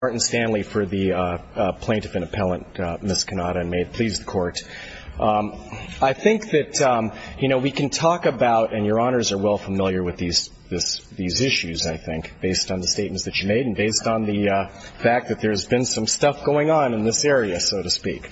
for the plaintiff and appellant, Ms. Cannata, and may it please the court. I think that, you know, we can talk about, and your honors are well familiar with these issues, I think, based on the statements that you made and based on the fact that there's been some stuff going on in this area, so to speak.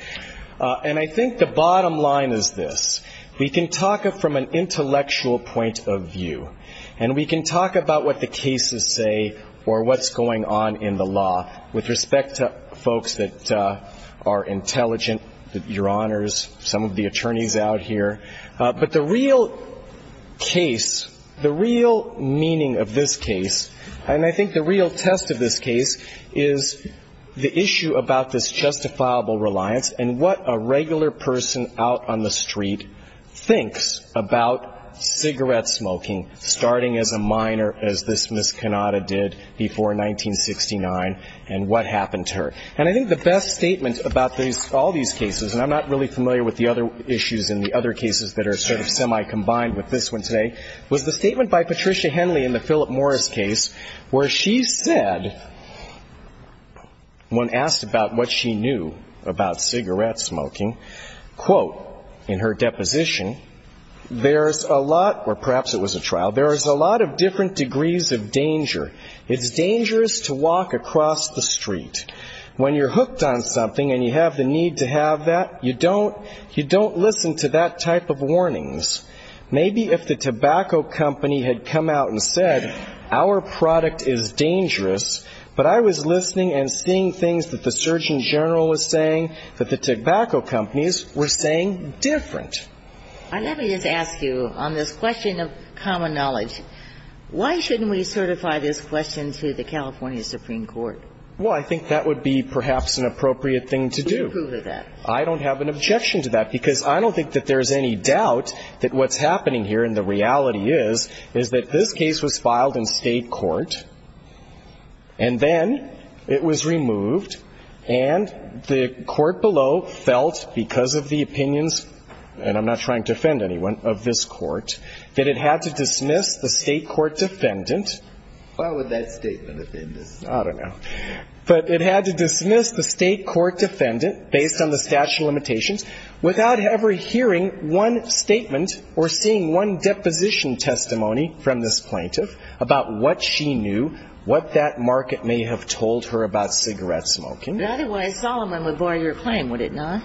And I think the bottom line is this. We can talk from an intellectual point of view, and we can talk about what the cases say or what's going on in the law, with respect to folks that are intelligent, your honors, some of the attorneys out here. But the real case, the real meaning of this case, and I think the real test of this case, is the issue about this justifiable reliance and what a regular person out on the street thinks about cigarette smoking, starting as a minor, as this Ms. Cannata did before 1969, and what happened to her. And I think the best statement about these, all these cases, and I'm not really familiar with the other issues in the other cases that are sort of semi-combined with this one today, was the statement by Patricia Henley in the Philip Morris case, where she said, when asked about what she knew about cigarette smoking, quote, in her deposition, there's a lot, or perhaps it was a trial, there is a lot of different degrees of danger. It's dangerous to walk across the street. When you're hooked on something and you have the need to have that, you don't listen to that type of warnings. Maybe if the tobacco company had come out and said, our product is dangerous, but I was listening and seeing things that the surgeon general was saying that the tobacco companies were saying different. Let me just ask you, on this question of common knowledge, why shouldn't we certify this question to the California Supreme Court? Well, I think that would be perhaps an appropriate thing to do. Who would approve of that? I don't have an objection to that, because I don't think that there's any doubt that what's happening here, and the reality is, is that this case was filed in state court, and then it was removed, and the court below felt, because of the opinions and I'm not trying to offend anyone, of this court, that it had to dismiss the state court defendant. Why would that statement offend us? I don't know. But it had to dismiss the state court defendant, based on the statute of limitations, without ever hearing one statement or seeing one deposition testimony from this plaintiff about what she knew, what that market may have told her about cigarette smoking. But otherwise, Solomon would void your claim, would it not?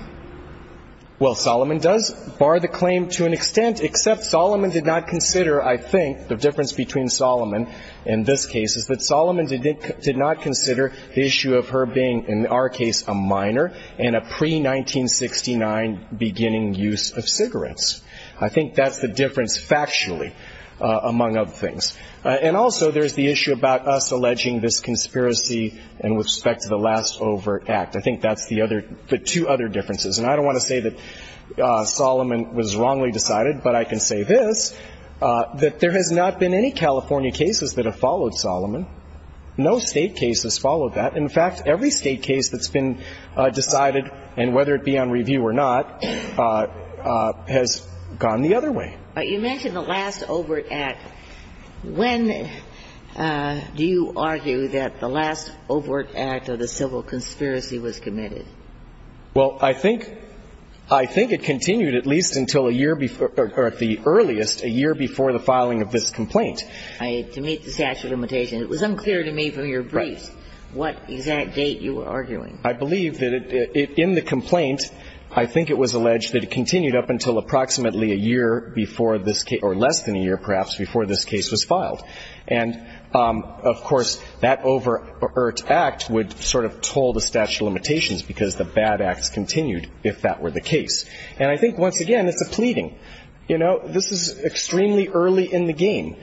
Well, Solomon does bar the claim to an extent, except Solomon did not consider, I think, the difference between Solomon and this case, is that Solomon did not consider the issue of her being, in our case, a minor, and a pre-1969 beginning use of cigarettes. I think that's the difference factually, among other things. And also, there's the issue about us alleging this conspiracy in respect to the last overt act. I think that's the other, the two other differences. And I don't want to say that Solomon was wrongly decided, but I can say this, that there has not been any California cases that have followed Solomon. No state case has followed that. In fact, every state case that's been decided, and whether it be on review or not, has gone the other way. But you mentioned the last overt act. When do you argue that the last overt act of the civil conspiracy was committed? Well, I think it continued at least until a year before, or at the earliest, a year before the filing of this complaint. To meet the statute of limitations. It was unclear to me from your briefs what exact date you were arguing. I believe that in the complaint, I think it was alleged that it continued up until approximately a year before this case, or less than a year, perhaps, before this case was filed. And, of course, that overt act would sort of toll the statute of limitations because the bad acts continued, if that were the case. And I think, once again, it's a pleading. You know, this is extremely early in the game.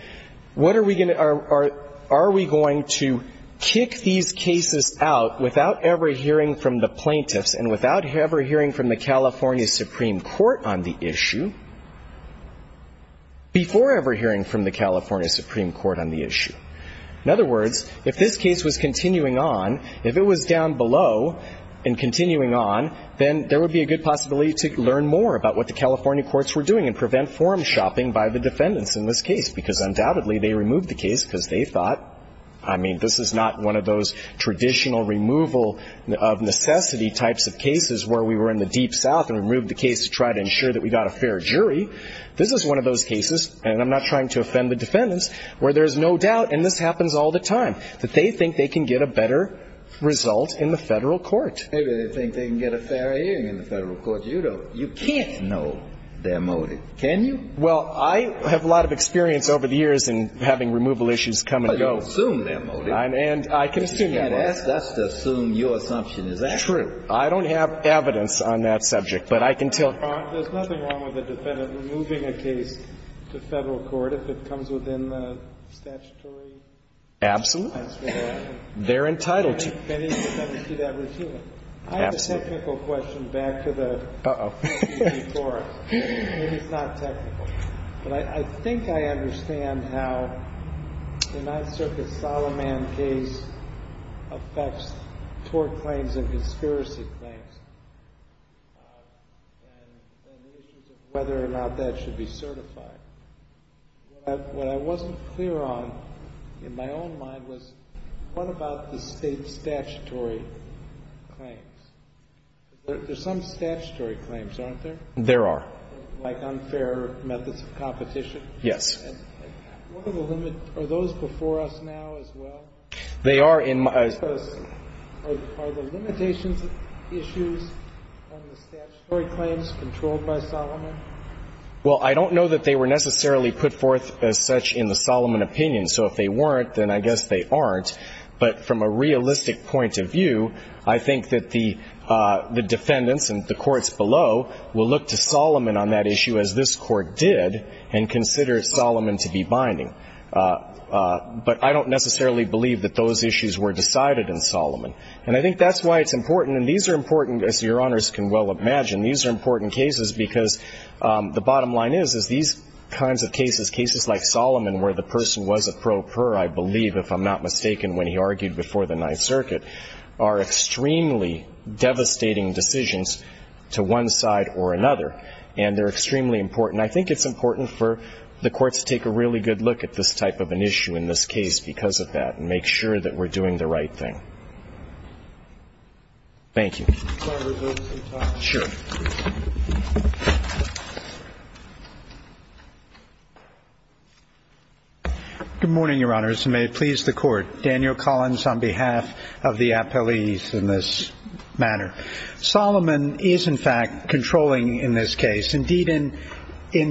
What are we going to, are we going to kick these cases out without ever hearing from the plaintiffs and without ever hearing from the California Supreme Court on the issue, before ever hearing from the California Supreme Court on the issue? In other words, if this case was continuing on, if it was down below and continuing on, then there would be a good possibility to learn more about what the California courts were doing and prevent forum shopping by the defendants in this case. Because, undoubtedly, they removed the case because they thought, I mean, this is not one of those traditional removal of necessity types of cases where we were in the deep south and removed the case to try to ensure that we got a fair jury. This is one of those cases, and I'm not trying to offend the defendants, where there's no doubt, and this happens all the time, that they think they can get a better result in the federal court. Maybe they think they can get a fair hearing in the federal court. You don't. You can't know their motive. Can you? Well, I have a lot of experience over the years in having removal issues come and go. I don't assume their motive. And I can assume their motive. That's to assume your assumption. Is that true? True. I don't have evidence on that subject, but I can tell you. There's nothing wrong with a defendant removing a case to federal court if it comes within the statutory requirements. Absolutely. They're entitled to it. I have a technical question back to the forum. Uh-oh. Maybe it's not technical. But I think I understand how the Ninth Circuit Solomon case affects tort claims and conspiracy claims and the issues of whether or not that should be certified. What I wasn't clear on in my own mind was what about the state statutory claims? There's some statutory claims, aren't there? There are. Like unfair methods of competition? Yes. What are the limits? Are those before us now as well? They are in my ---- Are the limitations issues on the statutory claims controlled by Solomon? Well, I don't know that they were necessarily put forth as such in the Solomon opinion. So if they weren't, then I guess they aren't. But from a realistic point of view, I think that the defendants and the courts below will look to Solomon on that issue, as this Court did, and consider Solomon to be binding. But I don't necessarily believe that those issues were decided in Solomon. And I think that's why it's important. And these are important, as Your Honors can well imagine. These are important cases because the bottom line is, is these kinds of cases, cases like Solomon where the person was a pro per, I believe, if I'm not mistaken when he argued before the Ninth Circuit, are extremely devastating decisions to one side or another. And they're extremely important. I think it's important for the courts to take a really good look at this type of an issue in this case because of that and make sure that we're doing the right thing. Thank you. Can I have a vote sometime? Sure. Good morning, Your Honors, and may it please the Court. Daniel Collins on behalf of the appellees in this matter. Solomon is, in fact, controlling in this case. Indeed, in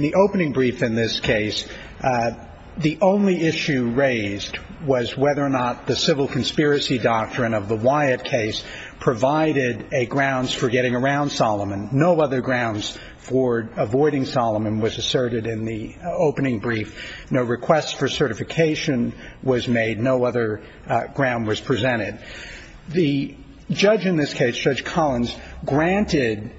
the opening brief in this case, the only issue raised was whether or not the civil conspiracy doctrine of the Wyatt case provided grounds for getting around Solomon. No other grounds for avoiding Solomon was asserted in the opening brief. No request for certification was made. No other ground was presented. The judge in this case, Judge Collins, granted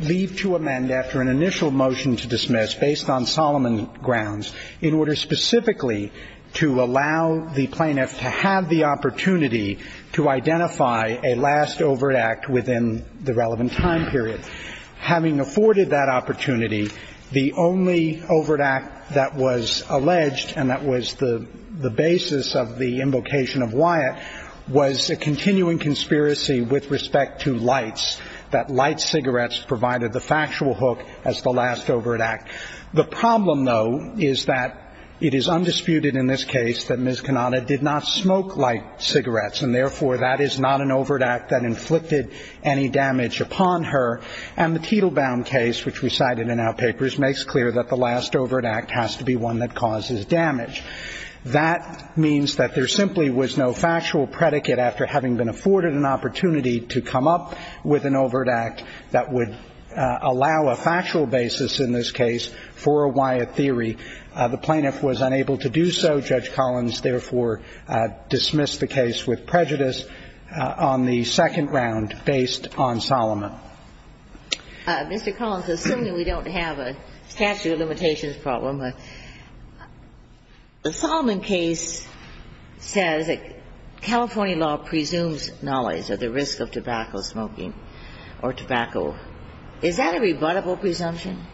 leave to amend after an initial motion to dismiss based on Solomon grounds in order specifically to allow the plaintiff to have the opportunity to identify a last overt act within the relevant time period. Having afforded that opportunity, the only overt act that was alleged and that was the basis of the invocation of Wyatt was a continuing conspiracy with respect to lights, that light cigarettes provided the factual hook as the last overt act. The problem, though, is that it is undisputed in this case that Ms. Cannata did not smoke light cigarettes, and therefore that is not an overt act that inflicted any damage upon her. And the Tittlebaum case, which we cited in our papers, makes clear that the last overt act has to be one that causes damage. That means that there simply was no factual predicate after having been afforded an opportunity to come up with an overt act that would allow a factual basis in this case for a Wyatt theory. The plaintiff was unable to do so. Judge Collins therefore dismissed the case with prejudice on the second round based on Solomon. Mr. Collins, assuming we don't have a statute of limitations problem, the Solomon case says that California law presumes knowledge of the risk of tobacco smoking or tobacco. Is that a rebuttable presumption?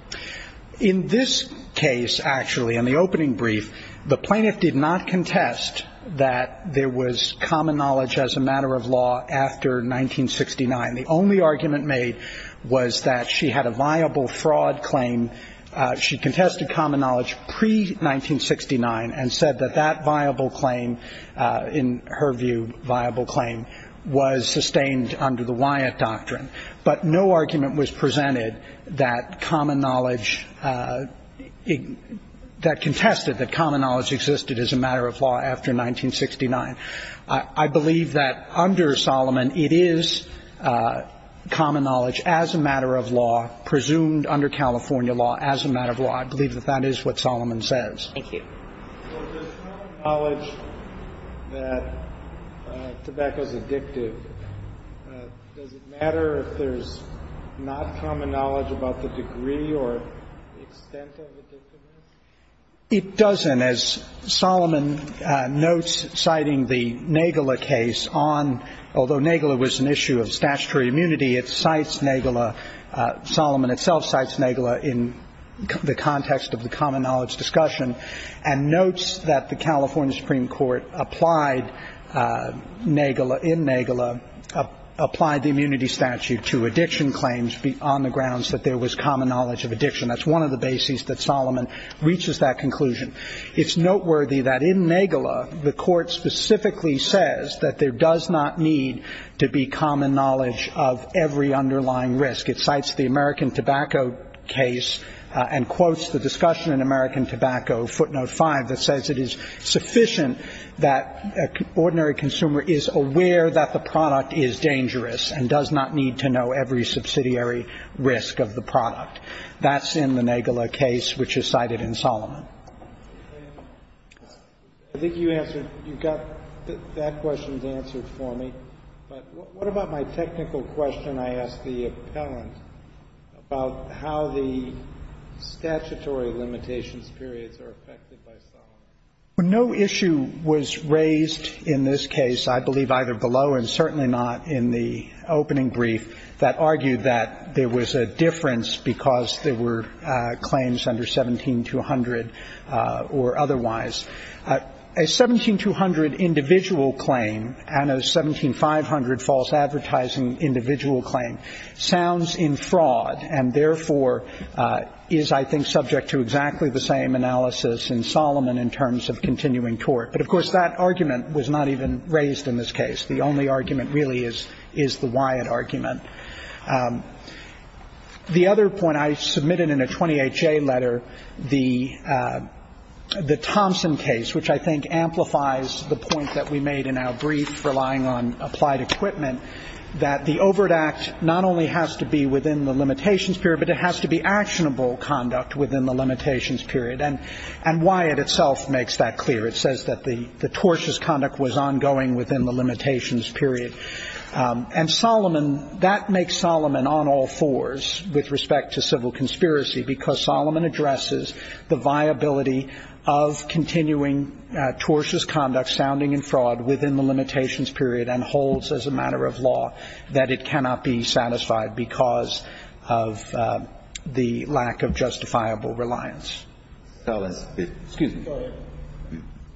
In this case, actually, in the opening brief, the plaintiff did not contest that there was common knowledge as a matter of law after 1969. The only argument made was that she had a viable fraud claim. She contested common knowledge pre-1969 and said that that viable claim, in her view, viable claim was sustained under the Wyatt doctrine. But no argument was presented that common knowledge, that contested that common knowledge existed as a matter of law after 1969. I believe that under Solomon it is common knowledge as a matter of law, presumed under California law as a matter of law. I believe that that is what Solomon says. Thank you. Does common knowledge that tobacco is addictive, does it matter if there's not common knowledge about the degree or extent of addictiveness? It doesn't. As Solomon notes citing the Nagala case on, although Nagala was an issue of statutory immunity, it cites Nagala. Solomon itself cites Nagala in the context of the common knowledge discussion. And notes that the California Supreme Court applied Nagala, in Nagala, applied the immunity statute to addiction claims on the grounds that there was common knowledge of addiction. That's one of the bases that Solomon reaches that conclusion. It's noteworthy that in Nagala the court specifically says that there does not need to be common knowledge of every underlying risk. It cites the American Tobacco case and quotes the discussion in American Tobacco, footnote 5, that says it is sufficient that an ordinary consumer is aware that the product is dangerous and does not need to know every subsidiary risk of the product. That's in the Nagala case, which is cited in Solomon. I think you answered. You got that question answered for me. But what about my technical question I asked the appellant about how the statutory limitations periods are affected by Solomon? No issue was raised in this case, I believe either below and certainly not in the opening brief, that argued that there was a difference because there were claims under 17200 or otherwise. A 17200 individual claim and a 17500 false advertising individual claim sounds in fraud and therefore is, I think, subject to exactly the same analysis in Solomon in terms of continuing court. But, of course, that argument was not even raised in this case. The only argument really is the Wyatt argument. The other point I submitted in a 28-J letter, the Thompson case, which I think amplifies the point that we made in our brief relying on applied equipment, that the Overt Act not only has to be within the limitations period, but it has to be actionable conduct within the limitations period. And Wyatt itself makes that clear. It says that the tortious conduct was ongoing within the limitations period. And Solomon, that makes Solomon on all fours with respect to civil conspiracy because Solomon addresses the viability of continuing tortious conduct sounding in fraud within the limitations period and holds as a matter of law that it cannot be satisfied because of the lack of justifiable reliance. Scalia. Excuse me.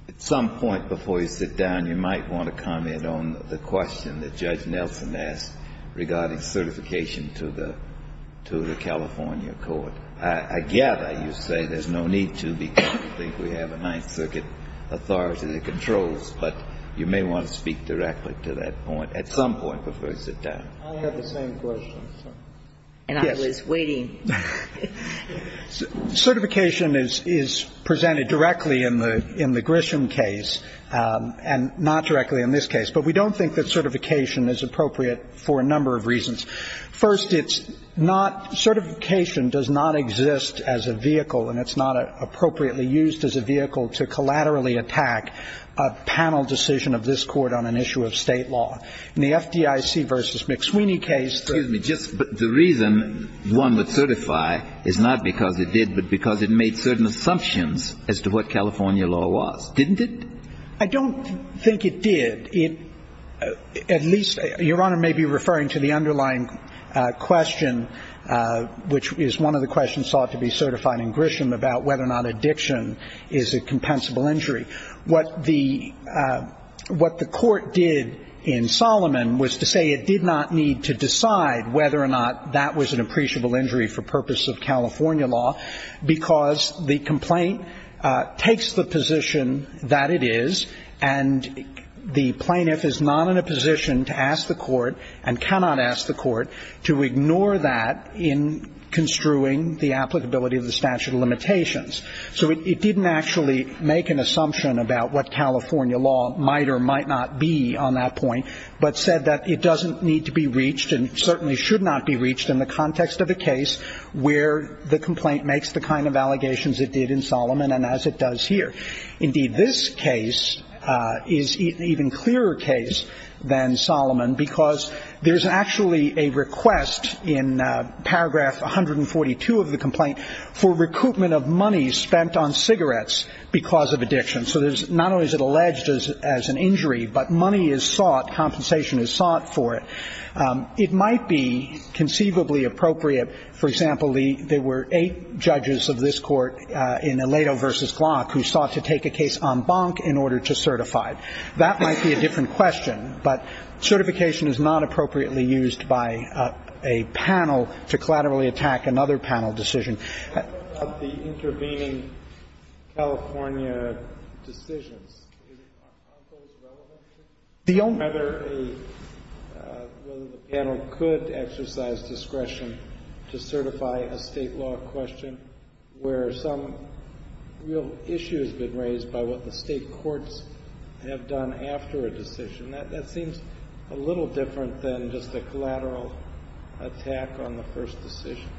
At some point before you sit down, you might want to comment on the question that Judge Nelson asked regarding certification to the California court. I gather you say there's no need to because you think we have a Ninth Circuit authority that controls, but you may want to speak directly to that point at some point before you sit down. I have the same question. And I was waiting. Certification is presented directly in the Grisham case and not directly in this case. But we don't think that certification is appropriate for a number of reasons. First, it's not – certification does not exist as a vehicle and it's not appropriately used as a vehicle to collaterally attack a panel decision of this Court on an issue of State law. In the FDIC v. McSweeney case. But the reason one would certify is not because it did, but because it made certain assumptions as to what California law was, didn't it? I don't think it did. It – at least – Your Honor may be referring to the underlying question, which is one of the questions sought to be certified in Grisham about whether or not addiction is a compensable injury. What the – what the Court did in Solomon was to say it did not need to decide whether or not that was an appreciable injury for purpose of California law because the complaint takes the position that it is and the plaintiff is not in a position to ask the Court and cannot ask the Court to ignore that in construing the applicability of the statute of limitations. So it didn't actually make an assumption about what California law might or might not be on that point, but said that it doesn't need to be reached and certainly should not be reached in the context of a case where the complaint makes the kind of allegations it did in Solomon and as it does here. Indeed, this case is an even clearer case than Solomon because there's actually a request in paragraph 142 of the complaint for recoupment of money spent on cigarettes because of addiction. So there's – not only is it alleged as an injury, but money is sought, compensation is sought for it. It might be conceivably appropriate – for example, there were eight judges of this court in Aledo v. Glock who sought to take a case en banc in order to certify it. That might be a different question, but certification is not appropriately used by a panel to collaterally attack another panel decision. The intervening California decisions, are those relevant? Whether a – whether the panel could exercise discretion to certify a State law question where some real issue has been raised by what the State courts have done after a decision, that seems a little different than just a collateral attack on the first decision.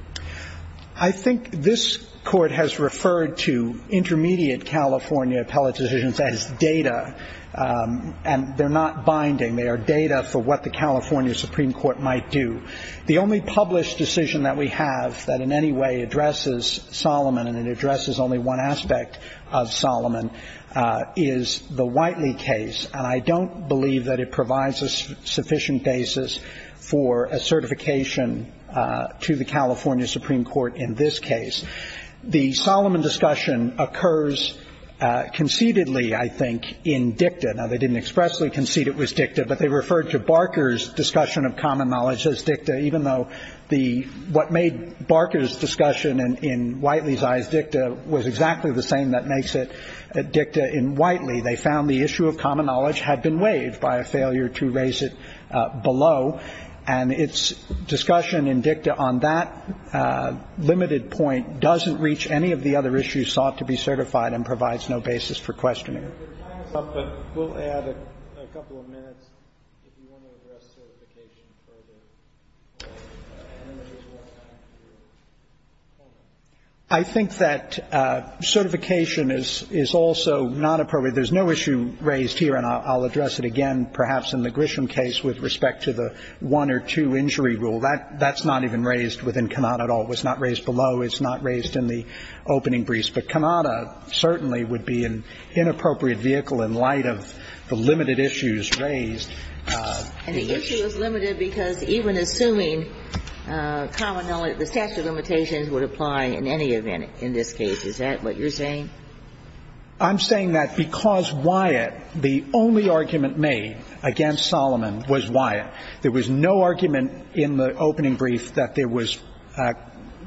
I think this Court has referred to intermediate California appellate decisions as data, and they're not binding. They are data for what the California Supreme Court might do. The only published decision that we have that in any way addresses Solomon, and it addresses only one aspect of Solomon, is the Whiteley case. And I don't believe that it provides a sufficient basis for a certification to the California Supreme Court in this case. The Solomon discussion occurs conceitedly, I think, in dicta. Now, they didn't expressly concede it was dicta, but they referred to Barker's discussion of common knowledge as dicta, even though the – what made Barker's discussion in Whiteley's eyes dicta was exactly the same that makes it dicta in Whiteley. They found the issue of common knowledge had been waived by a failure to raise it below. And its discussion in dicta on that limited point doesn't reach any of the other issues sought to be certified and provides no basis for questioning it. We'll add a couple of minutes if you want to address certification further. I think that certification is also not appropriate. There's no issue raised here, and I'll address it again perhaps in the Grisham case with respect to the one or two injury rule. That's not even raised within Kanata at all. It was not raised below. It's not raised in the opening briefs. But Kanata certainly would be an inappropriate vehicle in light of the limited issues raised. And the issue is limited because even assuming common knowledge, the statute of limitations would apply in any event in this case. Is that what you're saying? I'm saying that because Wyatt, the only argument made against Solomon was Wyatt. There was no argument in the opening brief that there was –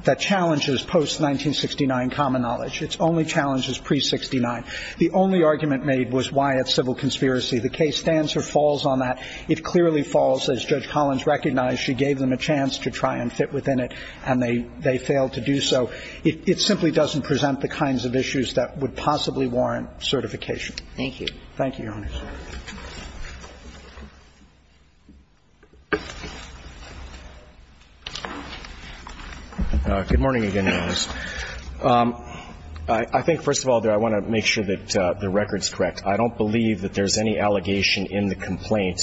that challenges post-1969 common knowledge. Its only challenge is pre-'69. The only argument made was Wyatt's civil conspiracy. The case stands or falls on that. It clearly falls, as Judge Collins recognized. She gave them a chance to try and fit within it, and they failed to do so. It simply doesn't present the kinds of issues that would possibly warrant certification. Thank you. Thank you, Your Honor. Good morning again, Your Honor. I think, first of all, I want to make sure that the record's correct. I don't believe that there's any allegation in the complaint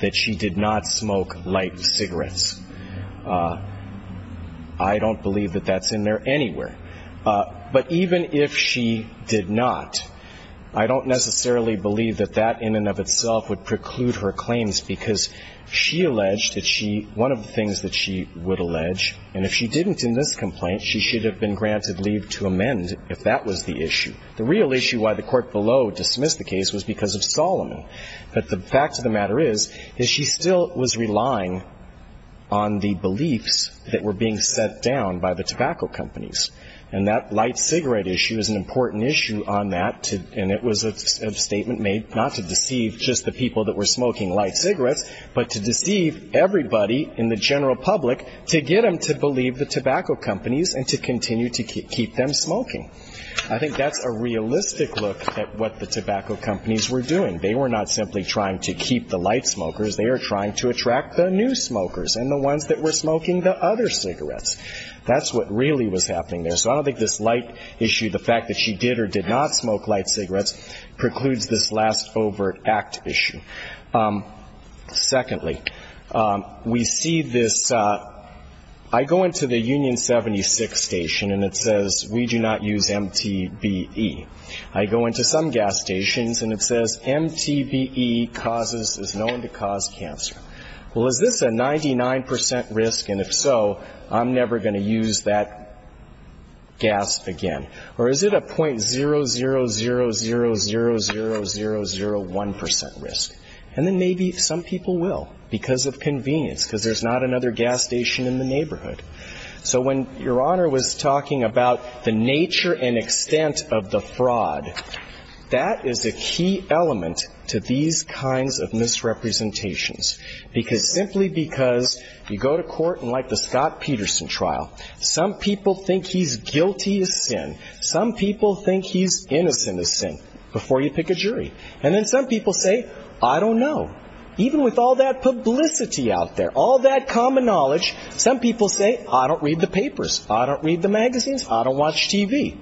that she did not smoke light cigarettes. I don't believe that that's in there anywhere. But even if she did not, I don't necessarily believe that that is the case. I don't think that in and of itself would preclude her claims because she alleged that she – one of the things that she would allege, and if she didn't in this complaint, she should have been granted leave to amend if that was the issue. The real issue why the court below dismissed the case was because of Solomon. But the fact of the matter is, is she still was relying on the beliefs that were being set down by the tobacco companies. And that light cigarette issue is an important issue on that, and it was a statement made not to deceive just the people that were smoking light cigarettes, but to deceive everybody in the general public to get them to believe the tobacco companies and to continue to keep them smoking. I think that's a realistic look at what the tobacco companies were doing. They were not simply trying to keep the light smokers. They were trying to attract the new smokers and the ones that were smoking the other cigarettes. That's what really was happening there. So I don't think this light issue, the fact that she did or did not smoke light cigarettes, precludes this last overt act issue. Secondly, we see this. I go into the Union 76 station, and it says we do not use MTBE. I go into some gas stations, and it says MTBE is known to cause cancer. Well, is this a 99 percent risk, and if so, I'm never going to use that gas again? Or is it a .000000001 percent risk? And then maybe some people will because of convenience, because there's not another gas station in the neighborhood. So when Your Honor was talking about the nature and extent of the fraud, that is a key element to these kinds of misrepresentations, because simply because you go to Some people think he's innocent, this thing, before you pick a jury. And then some people say, I don't know. Even with all that publicity out there, all that common knowledge, some people say, I don't read the papers. I don't read the magazines. I don't watch TV.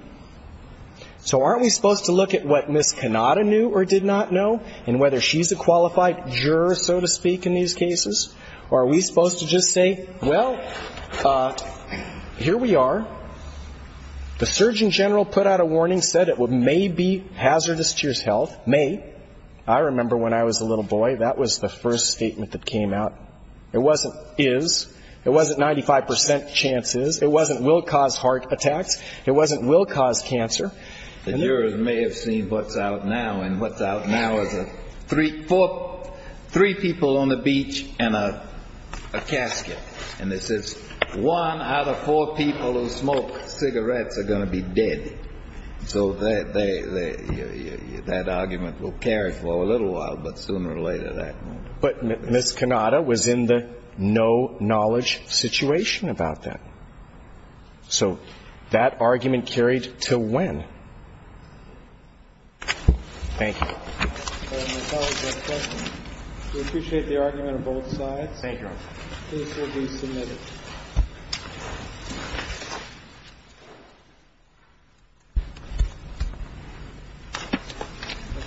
So aren't we supposed to look at what Ms. Cannata knew or did not know, and whether she's a qualified juror, so to speak, in these cases? Or are we supposed to just say, well, here we are. The Surgeon General put out a warning, said it may be hazardous to your health. May. I remember when I was a little boy, that was the first statement that came out. It wasn't is. It wasn't 95 percent chance is. It wasn't will cause heart attacks. It wasn't will cause cancer. The jurors may have seen what's out now, and what's out now is three people on the casket. And it says one out of four people who smoke cigarettes are going to be dead. So that argument will carry for a little while, but sooner or later that won't be. But Ms. Cannata was in the no-knowledge situation about that. So that argument carried till when? Thank you. We appreciate the argument on both sides. Thank you, Your Honor. The case will be submitted.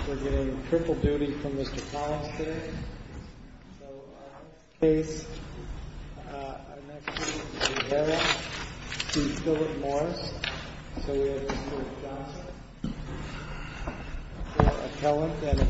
We're getting triple duty from Mr. Collins today. Thank you. Thank you. Thank you.